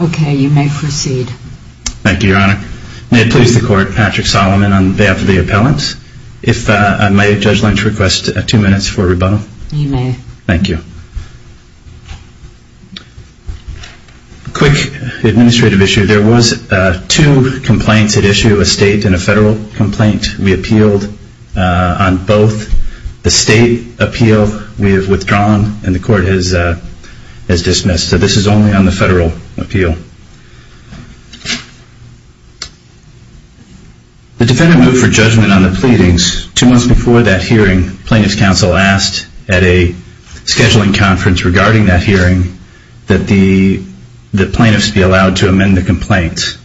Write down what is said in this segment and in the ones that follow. Okay, you may proceed. Thank you, Your Honor. May it please the Court, Patrick Solomon, on behalf of the appellant, if I may, Judge Lynch, request two minutes for rebuttal. You may. Thank you. A quick administrative issue. There were two complaints at issue, a state and a federal complaint. We appealed on both. The state appeal we have withdrawn and the Court has dismissed. So this is only on the federal appeal. The defendant moved for judgment on the pleadings. Two months before that hearing, plaintiff's counsel asked at a scheduling conference regarding that hearing that the plaintiffs be allowed to amend the complaint.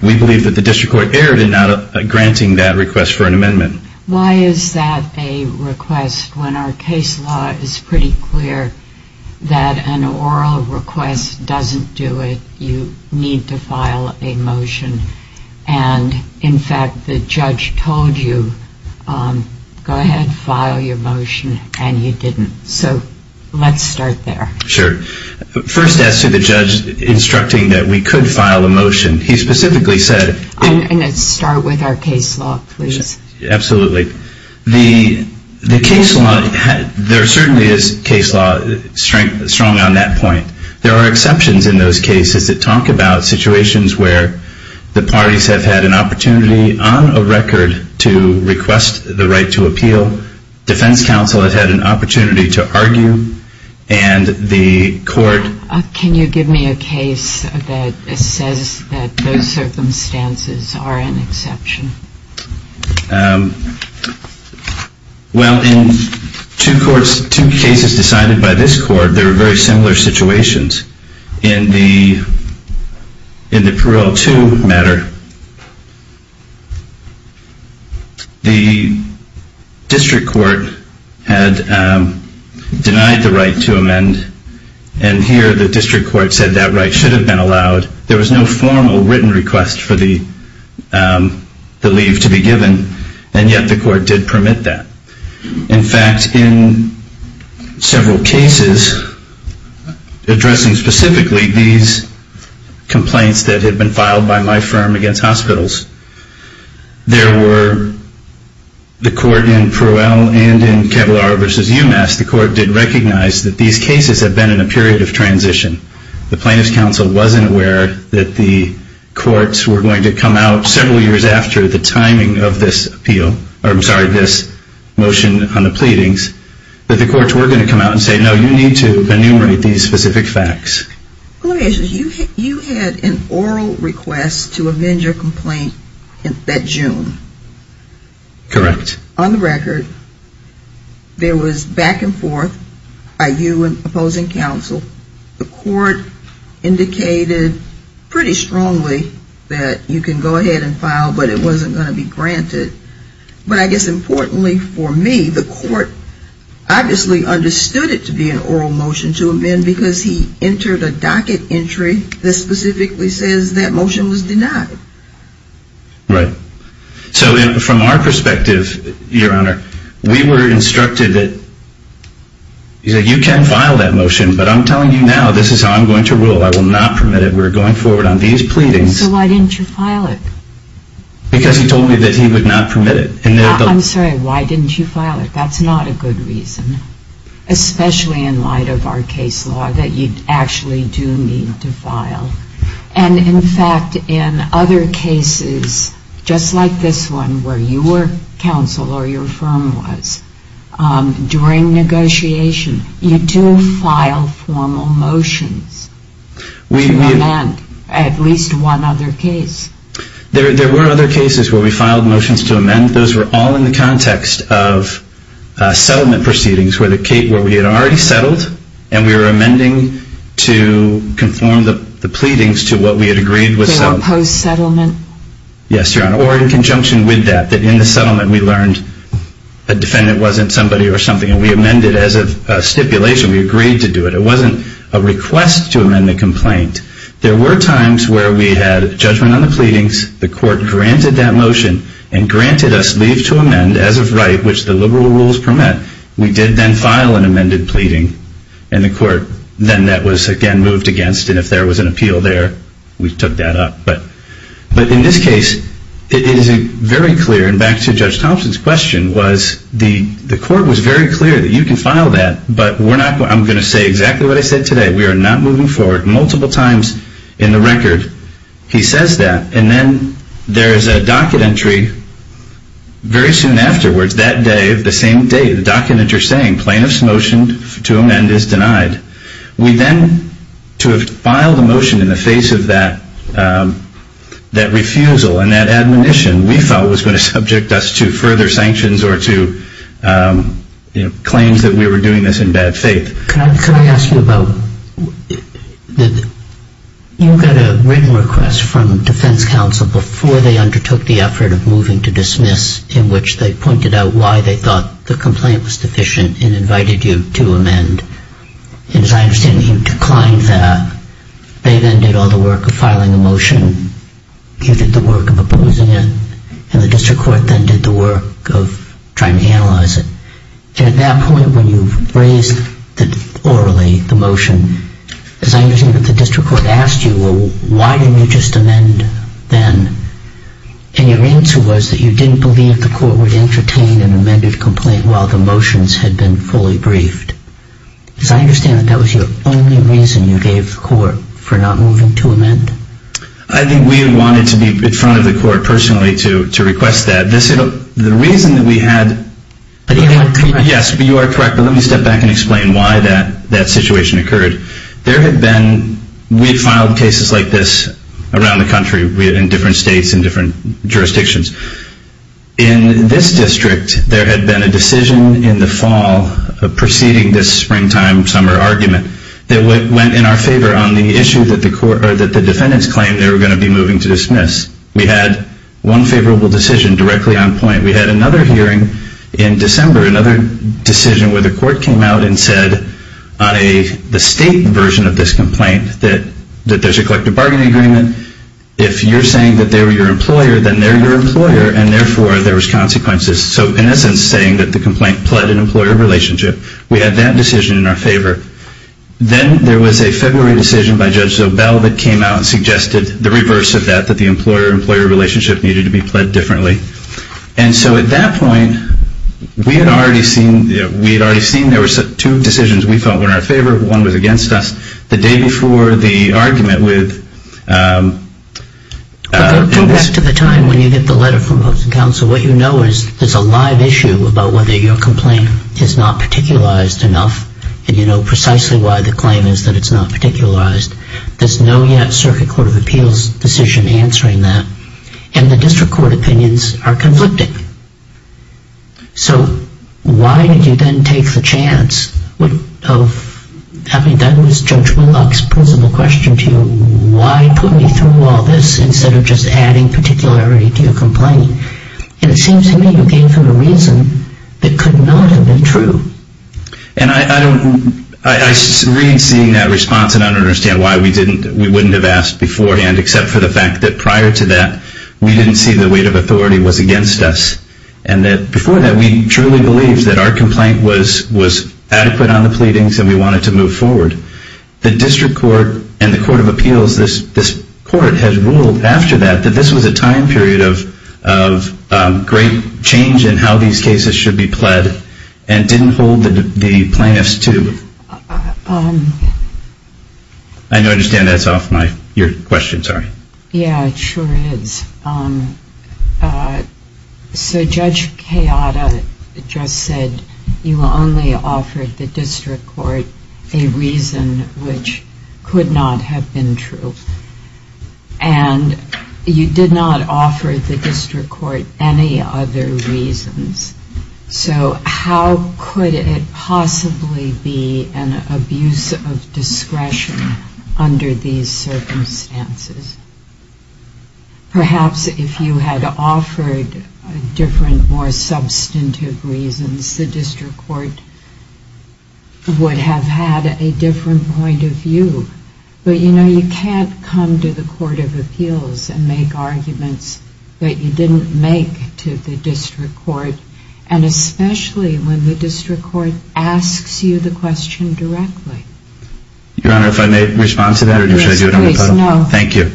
We believe that the district court erred in not granting that request for an amendment. Why is that a request when our case law is pretty clear that an oral request doesn't do it? You need to file a motion. And, in fact, the judge told you, go ahead, file your motion, and you didn't. So let's start there. Sure. First, as to the judge instructing that we could file a motion, he specifically said... I'm going to start with our case law, please. Absolutely. The case law, there certainly is case law strong on that point. There are exceptions in those cases that talk about situations where the parties have had an opportunity on a record to request the right to appeal. So defense counsel has had an opportunity to argue, and the court... Can you give me a case that says that those circumstances are an exception? Well, in two cases decided by this court, there were very similar situations. In the Parole 2 matter, the district court had denied the right to amend, and here the district court said that right should have been allowed. There was no formal written request for the leave to be given, and yet the court did permit that. In fact, in several cases addressing specifically these complaints that had been filed by my firm against hospitals, there were... In Pruell and in Kevlar v. UMass, the court did recognize that these cases had been in a period of transition. The plaintiff's counsel wasn't aware that the courts were going to come out several years after the timing of this appeal, or I'm sorry, this motion on the pleadings, that the courts were going to come out and say, no, you need to enumerate these specific facts. Let me ask you, you had an oral request to amend your complaint that June. Correct. On the record, there was back and forth by you and opposing counsel. The court indicated pretty strongly that you can go ahead and file, but it wasn't going to be granted. But I guess importantly for me, the court obviously understood it to be an oral motion to amend because he entered a docket entry that specifically says that motion was denied. Right. So from our perspective, Your Honor, we were instructed that you can file that motion, but I'm telling you now, this is how I'm going to rule. I will not permit it. We're going forward on these pleadings. So why didn't you file it? Because he told me that he would not permit it. I'm sorry, why didn't you file it? That's not a good reason, especially in light of our case law that you actually do need to file. And in fact, in other cases, just like this one where you were counsel or your firm was, during negotiation, you do file formal motions to amend at least one other case. There were other cases where we filed motions to amend. Those were all in the context of settlement proceedings where we had already settled and we were amending to conform the pleadings to what we had agreed was settled. They were post-settlement? Yes, Your Honor, or in conjunction with that, that in the settlement we learned a defendant wasn't somebody or something and we amended as a stipulation. We agreed to do it. It wasn't a request to amend the complaint. There were times where we had judgment on the pleadings, the court granted that motion and granted us leave to amend as of right, which the liberal rules permit. We did then file an amended pleading and the court then that was again moved against and if there was an appeal there, we took that up. But in this case, it is very clear, and back to Judge Thompson's question, was the court was very clear that you can file that, but I'm going to say exactly what I said today. We are not moving forward. Multiple times in the record, he says that. And then there is a docket entry very soon afterwards, that day, the same day, the docket that you're saying plaintiff's motion to amend is denied. We then, to have filed a motion in the face of that refusal and that admonition, we thought was going to subject us to further sanctions or to claims that we were doing this in bad faith. Can I ask you about, you got a written request from defense counsel before they undertook the effort of moving to dismiss in which they pointed out why they thought the complaint was deficient and invited you to amend. And as I understand, you declined that. They then did all the work of filing a motion. You did the work of opposing it. And the district court then did the work of trying to analyze it. At that point, when you raised orally the motion, as I understand it, the district court asked you, well, why didn't you just amend then? And your answer was that you didn't believe the court would entertain an amended complaint while the motions had been fully briefed. As I understand it, that was your only reason you gave the court for not moving to amend. I think we wanted to be in front of the court personally to request that. The reason that we had, yes, you are correct, but let me step back and explain why that situation occurred. There had been, we had filed cases like this around the country in different states and different jurisdictions. In this district, there had been a decision in the fall preceding this springtime-summer argument that went in our favor on the issue that the defendants claimed they were going to be moving to dismiss. We had one favorable decision directly on point. We had another hearing in December, another decision where the court came out and said on the state version of this complaint that there is a collective bargaining agreement. If you're saying that they were your employer, then they're your employer and therefore there was consequences. So in essence saying that the complaint pled an employer relationship. We had that decision in our favor. Then there was a February decision by Judge Zobel that came out and suggested the reverse of that, that the employer-employer relationship needed to be pled differently. And so at that point, we had already seen, we had already seen there were two decisions we felt were in our favor. One was against us. But going back to the time when you get the letter from Hooks & Council, what you know is there's a live issue about whether your complaint is not particularized enough and you know precisely why the claim is that it's not particularized. There's no yet Circuit Court of Appeals decision answering that. And the district court opinions are conflicting. So why did you then take the chance of, I mean, that was Judge Whitlock's principle question to you. Why put me through all this instead of just adding particularity to your complaint? And it seems to me you gave him a reason that could not have been true. And I don't, I read seeing that response and I don't understand why we didn't, we wouldn't have asked beforehand except for the fact that prior to that, we didn't see the weight of authority was against us. And that before that, we truly believed that our complaint was adequate on the pleadings and we wanted to move forward. The district court and the Court of Appeals, this court has ruled after that, that this was a time period of great change in how these cases should be pled and didn't hold the plaintiffs to. I understand that's off my, your question, sorry. Yeah, it sure is. So Judge Kayada just said you only offered the district court a reason which could not have been true. And you did not offer the district court any other reasons. So how could it possibly be an abuse of discretion under these circumstances? Perhaps if you had offered different, more substantive reasons, the district court would have had a different point of view. But you know, you can't come to the Court of Appeals and make arguments that you didn't make to the district court, and especially when the district court asks you the question directly. Your Honor, if I may respond to that? Yes, please, no. Thank you.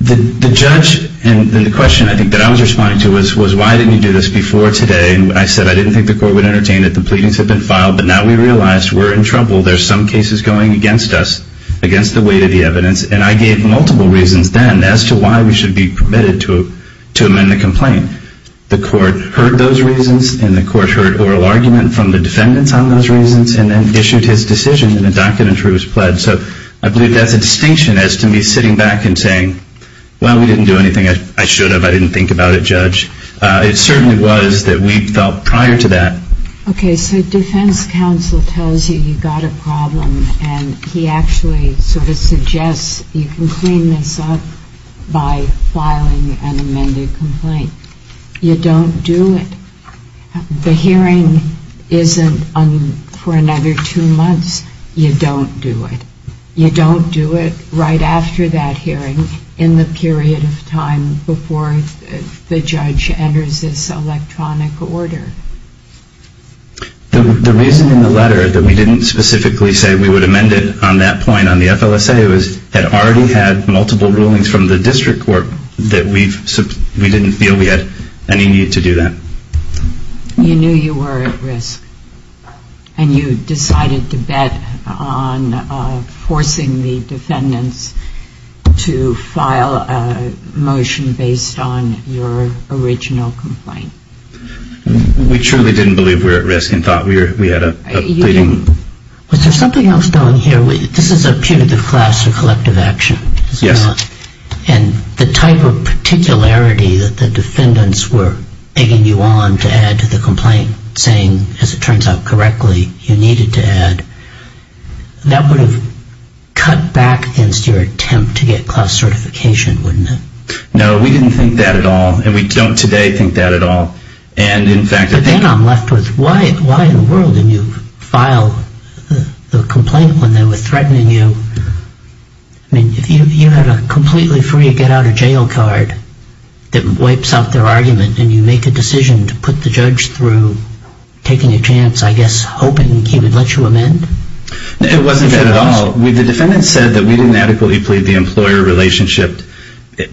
The judge, and the question I think that I was responding to was why didn't you do this before today? And I said I didn't think the court would entertain that the pleadings had been filed, but now we realize we're in trouble. There's some cases going against us, against the weight of the evidence. And I gave multiple reasons then as to why we should be permitted to amend the complaint. The court heard those reasons, and the court heard oral argument from the defendants on those reasons, and then issued his decision in the documentary was pledged. So I believe that's a distinction as to me sitting back and saying, well, we didn't do anything I should have. I didn't think about it, Judge. It certainly was that we felt prior to that. Okay. So defense counsel tells you you've got a problem, and he actually sort of suggests you can clean this up by filing an amended complaint. You don't do it. The hearing isn't for another two months. You don't do it. You don't do it right after that hearing in the period of time before the judge enters this electronic order. The reason in the letter that we didn't specifically say we would amend it on that point on the FLSA was it already had multiple rulings from the district court that we didn't feel we had any need to do that. You knew you were at risk, and you decided to bet on forcing the defendants to file a motion based on your original complaint. We truly didn't believe we were at risk and thought we had a pleading. Was there something else going here? This is a punitive class for collective action. Yes. And the type of particularity that the defendants were begging you on to add to the complaint, saying, as it turns out correctly, you needed to add, that would have cut back against your attempt to get class certification, wouldn't it? No, we didn't think that at all, and we don't today think that at all. But then I'm left with, why in the world didn't you file the complaint when they were threatening you? I mean, you had a completely free get-out-of-jail card that wipes out their argument, and you make a decision to put the judge through taking a chance, I guess, hoping he would let you amend? It wasn't that at all. Well, the defendants said that we didn't adequately plead the employer relationship.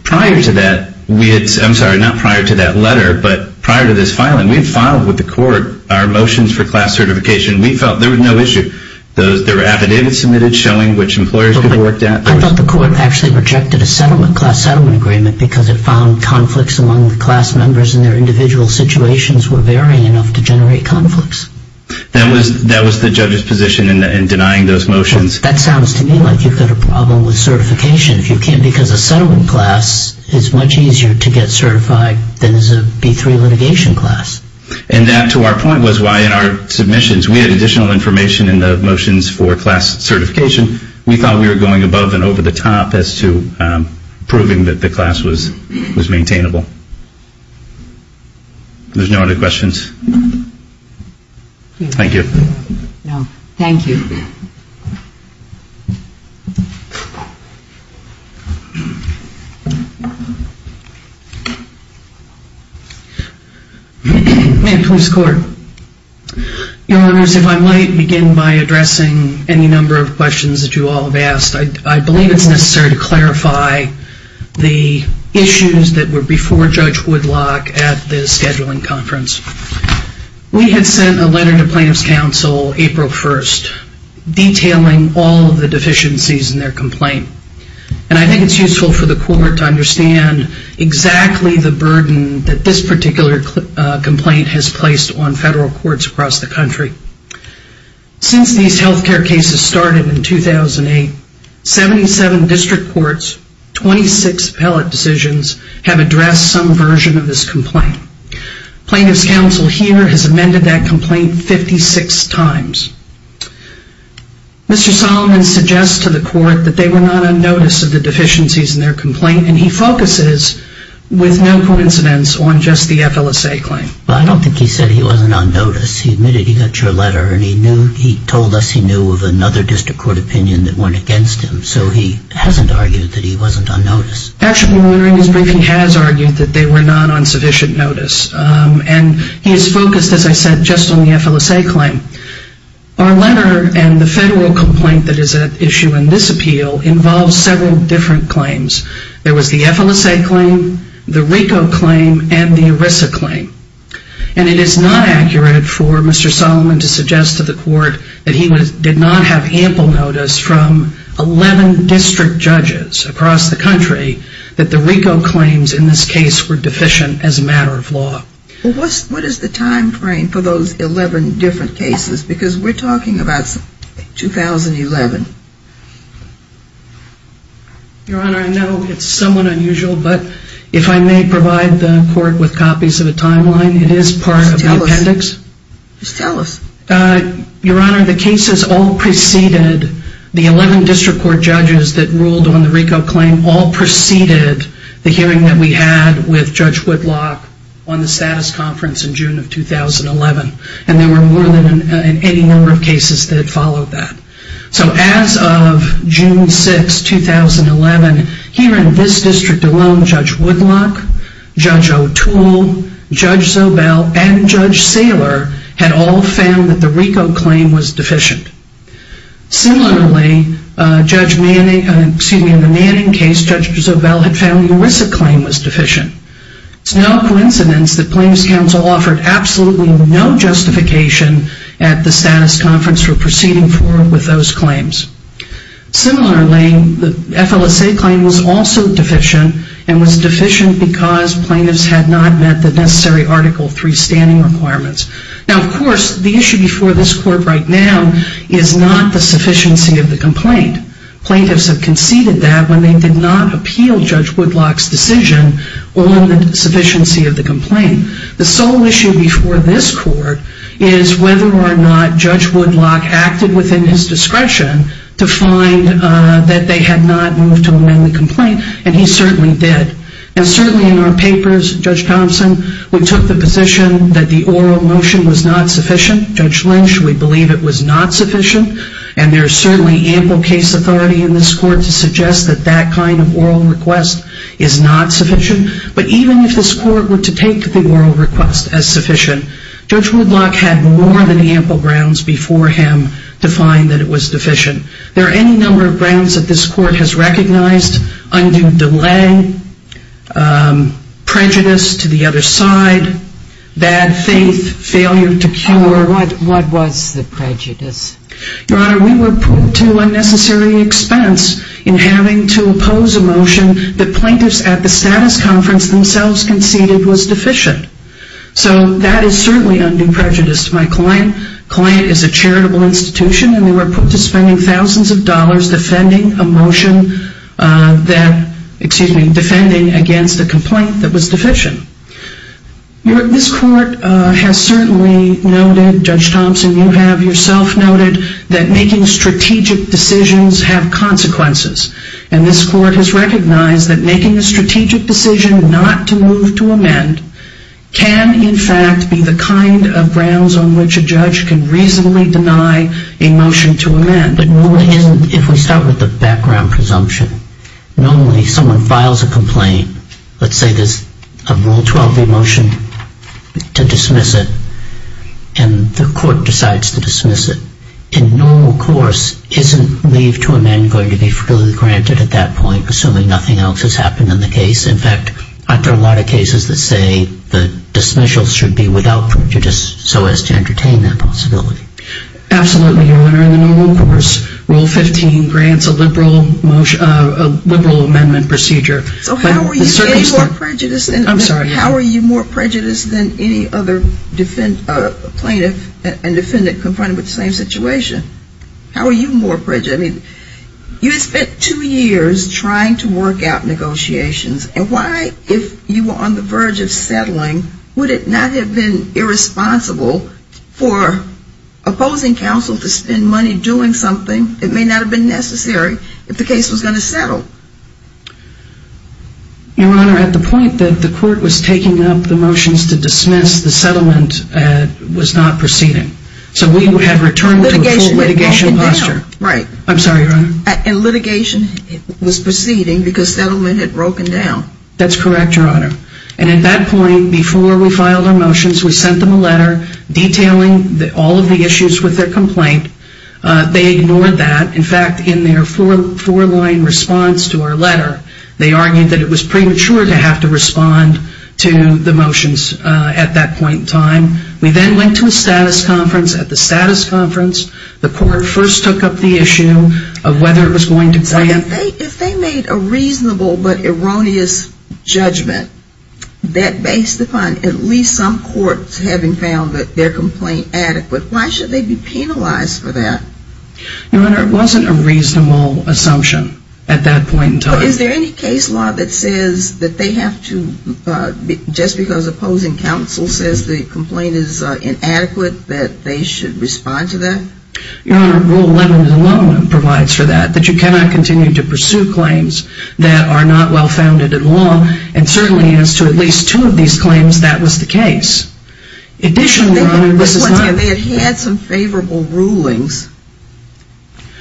Prior to that, I'm sorry, not prior to that letter, but prior to this filing, we had filed with the court our motions for class certification. We felt there was no issue. There were affidavits submitted showing which employers we worked at. I thought the court actually rejected a class settlement agreement because it found conflicts among the class members and their individual situations were varying enough to generate conflicts. That was the judge's position in denying those motions. That sounds to me like you've got a problem with certification, if you can, because a settlement class is much easier to get certified than is a B-3 litigation class. And that, to our point, was why in our submissions we had additional information in the motions for class certification. We thought we were going above and over the top as to proving that the class was maintainable. There's no other questions? Thank you. Ma'am, police court. Your Honors, if I might begin by addressing any number of questions that you all have asked. I believe it's necessary to clarify the issues that were before Judge Woodlock at the scheduling conference. We had sent a letter to Plaintiff's Counsel. April 1st, detailing all of the deficiencies in their complaint. And I think it's useful for the court to understand exactly the burden that this particular complaint has placed on federal courts across the country. Since these health care cases started in 2008, 77 district courts, 26 appellate decisions have addressed some version of this complaint. Plaintiff's Counsel here has amended that complaint 56 times. Mr. Solomon suggests to the court that they were not on notice of the deficiencies in their complaint. And he focuses, with no coincidence, on just the FLSA claim. I don't think he said he wasn't on notice. He admitted he got your letter and he told us he knew of another district court opinion that went against him. So he hasn't argued that he wasn't on notice. Actually, during his briefing, he has argued that they were not on sufficient notice. And he is focused, as I said, just on the FLSA claim. Our letter and the federal complaint that is at issue in this appeal involves several different claims. There was the FLSA claim, the RICO claim, and the ERISA claim. And it is not accurate for Mr. Solomon to suggest to the court that he did not have ample notice from 11 district judges across the country that the RICO claims in this case were deficient as a matter of law. What is the timeframe for those 11 different cases? Because we're talking about 2011. Your Honor, I know it's somewhat unusual, but if I may provide the court with copies of a timeline, it is part of the appendix. Just tell us. Your Honor, the cases all preceded, the 11 district court judges that ruled on the RICO claim all preceded the hearing that we had with Judge Whitlock on the status conference in June of 2011. And there were more than any number of cases that followed that. So as of June 6, 2011, here in this district alone, Judge Whitlock, Judge O'Toole, Judge Zobel, and Judge Saylor had all found that the RICO claim was deficient. Similarly, in the Manning case, Judge Zobel had found the ERISA claim was deficient. It's no coincidence that plaintiff's counsel offered absolutely no justification at the status conference for proceeding forward with those claims. Similarly, the FLSA claim was also deficient and was deficient because plaintiffs had not met the necessary Article III standing requirements. Now, of course, the issue before this court right now is not the sufficiency of the complaint. Plaintiffs have conceded that when they did not appeal Judge Whitlock's decision on the sufficiency of the complaint. The sole issue before this court is whether or not Judge Whitlock acted within his discretion to find that they had not moved to amend the complaint, and he certainly did. And certainly in our papers, Judge Thompson, we took the position that the oral motion was not sufficient. Judge Lynch, we believe it was not sufficient, and there is certainly ample case authority in this court to suggest that that kind of oral request is not sufficient. But even if this court were to take the oral request as sufficient, Judge Whitlock had more than ample grounds before him to find that it was deficient. There are any number of grounds that this court has recognized, undue delay, prejudice to the other side, bad faith, failure to cure. What was the prejudice? Your Honor, we were put to unnecessary expense in having to oppose a motion that plaintiffs at the status conference themselves conceded was deficient. So that is certainly undue prejudice to my client. The client is a charitable institution, and they were put to spending thousands of dollars defending a motion that, excuse me, defending against a complaint that was deficient. This court has certainly noted, Judge Thompson, you have yourself noted, that making strategic decisions have consequences. And this court has recognized that making a strategic decision not to move to amend can, in fact, be the kind of grounds on which a judge can reasonably deny a motion to amend. If we start with the background presumption, normally someone files a complaint. Let's say there's a Rule 12A motion to dismiss it, and the court decides to dismiss it. In normal course, isn't leave to amend going to be freely granted at that point, assuming nothing else has happened in the case? In fact, aren't there a lot of cases that say the dismissal should be without prejudice so as to entertain that possibility? Absolutely, Your Honor. In the normal course, Rule 15 grants a liberal amendment procedure. So how are you more prejudiced than any other plaintiff and defendant confronted with the same situation? How are you more prejudiced? You had spent two years trying to work out negotiations. And why, if you were on the verge of settling, would it not have been irresponsible for opposing counsel to spend money doing something that may not have been necessary if the case was going to settle? Your Honor, at the point that the court was taking up the motions to dismiss, the settlement was not proceeding. So we had returned to a full litigation posture. And litigation was proceeding because settlement had broken down. That's correct, Your Honor. And at that point, before we filed our motions, we sent them a letter detailing all of the issues with their complaint. They ignored that. In fact, in their four-line response to our letter, they argued that it was premature to have to respond to the motions at that point in time. We then went to a status conference. At the status conference, the court first took up the issue of whether it was going to grant. If they made a reasonable but erroneous judgment that based upon at least some courts having found that their complaint adequate, why should they be penalized for that? Your Honor, it wasn't a reasonable assumption at that point in time. Is there any case law that says that they have to, just because opposing counsel says the complaint is inadequate, that they should respond to that? Your Honor, Rule 11 alone provides for that, that you cannot continue to pursue claims that are not well-founded in law. And certainly as to at least two of these claims, that was the case. Additionally, Your Honor, this is not. They had had some favorable rulings.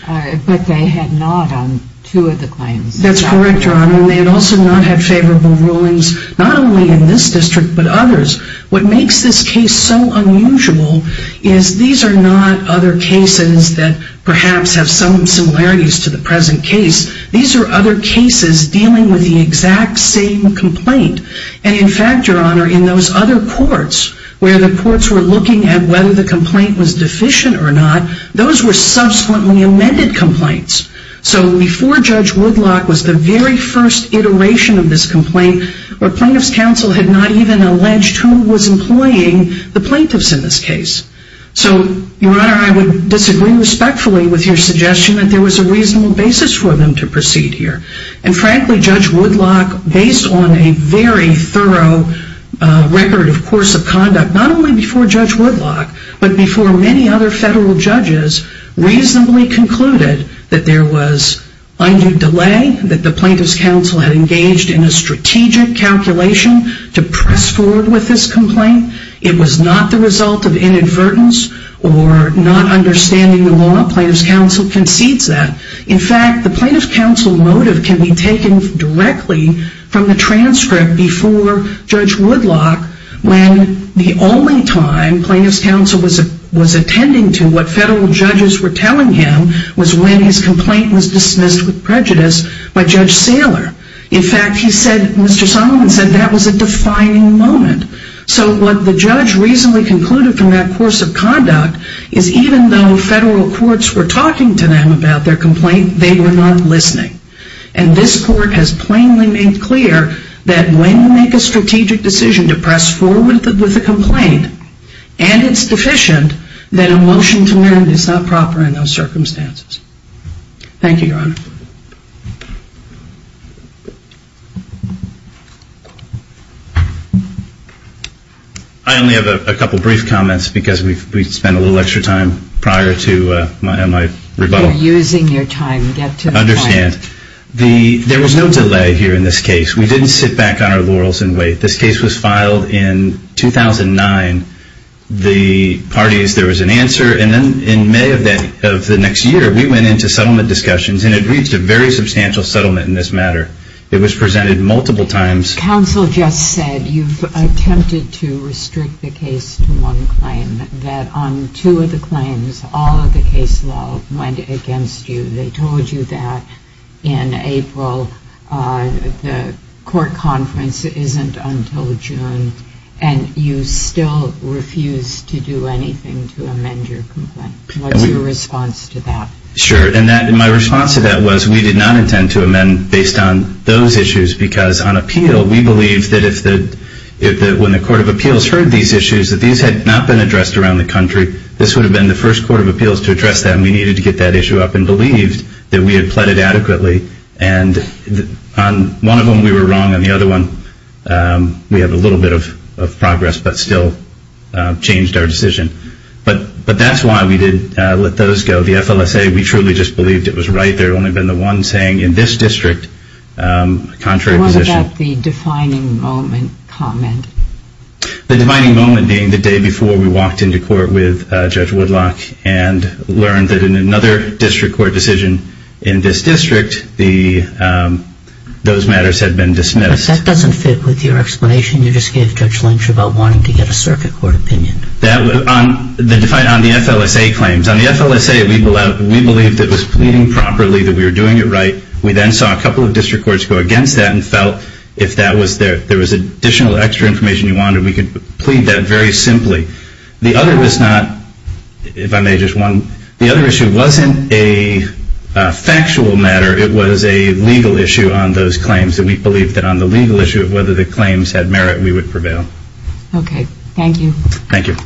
But they had not on two of the claims. That's correct, Your Honor. And they had also not had favorable rulings not only in this district but others. What makes this case so unusual is these are not other cases that perhaps have some similarities to the present case. These are other cases dealing with the exact same complaint. And in fact, Your Honor, in those other courts where the courts were looking at whether the complaint was deficient or not, those were subsequently amended complaints. So before Judge Woodlock was the very first iteration of this complaint, the plaintiff's counsel had not even alleged who was employing the plaintiffs in this case. So, Your Honor, I would disagree respectfully with your suggestion that there was a reasonable basis for them to proceed here. And frankly, Judge Woodlock, based on a very thorough record of course of conduct, not only before Judge Woodlock, but before many other federal judges, reasonably concluded that there was undue delay, that the plaintiff's counsel had engaged in a strategic calculation to press forward with this complaint. It was not the result of inadvertence or not understanding the law. Plaintiff's counsel concedes that. In fact, the plaintiff's counsel motive can be taken directly from the transcript before Judge Woodlock when the only time plaintiff's counsel was attending to what federal judges were telling him was when his complaint was dismissed with prejudice by Judge Saylor. In fact, he said, Mr. Solomon said, that was a defining moment. So, what the judge reasonably concluded from that course of conduct, is even though federal courts were talking to them about their complaint, they were not listening. And this court has plainly made clear that when you make a strategic decision to press forward with a complaint, and it's deficient, then a motion to mend is not proper in those circumstances. Thank you, Your Honor. I only have a couple brief comments because we spent a little extra time prior to my rebuttal. You're using your time. Get to the point. I understand. There was no delay here in this case. We didn't sit back on our laurels and wait. This case was filed in 2009. The parties, there was an answer, and then in May of the next year, we went into settlement discussions, and it reached a very substantial settlement in this matter. It was presented multiple times. Counsel just said you've attempted to restrict the case to one claim, that on two of the claims, all of the case law went against you. They told you that in April, the court conference isn't until June, and you still refuse to do anything to amend your complaint. What's your response to that? Sure, and my response to that was we did not intend to amend based on those issues because on appeal, we believe that when the Court of Appeals heard these issues, that these had not been addressed around the country. This would have been the first Court of Appeals to address that, and we needed to get that issue up and believed that we had pleaded adequately. And on one of them, we were wrong. On the other one, we had a little bit of progress but still changed our decision. But that's why we didn't let those go. The FLSA, we truly just believed it was right. There had only been the one saying in this district, contrary position. What about the defining moment comment? The defining moment being the day before we walked into court with Judge Woodlock and learned that in another district court decision in this district, those matters had been dismissed. But that doesn't fit with your explanation. You just gave Judge Lynch about wanting to get a circuit court opinion. On the FLSA claims, on the FLSA, we believed it was pleading properly, that we were doing it right. We then saw a couple of district courts go against that and felt if there was additional extra information you wanted, we could plead that very simply. The other issue wasn't a factual matter. It was a legal issue on those claims, and we believed that on the legal issue of whether the claims had merit, we would prevail. Okay. Thank you. Thank you.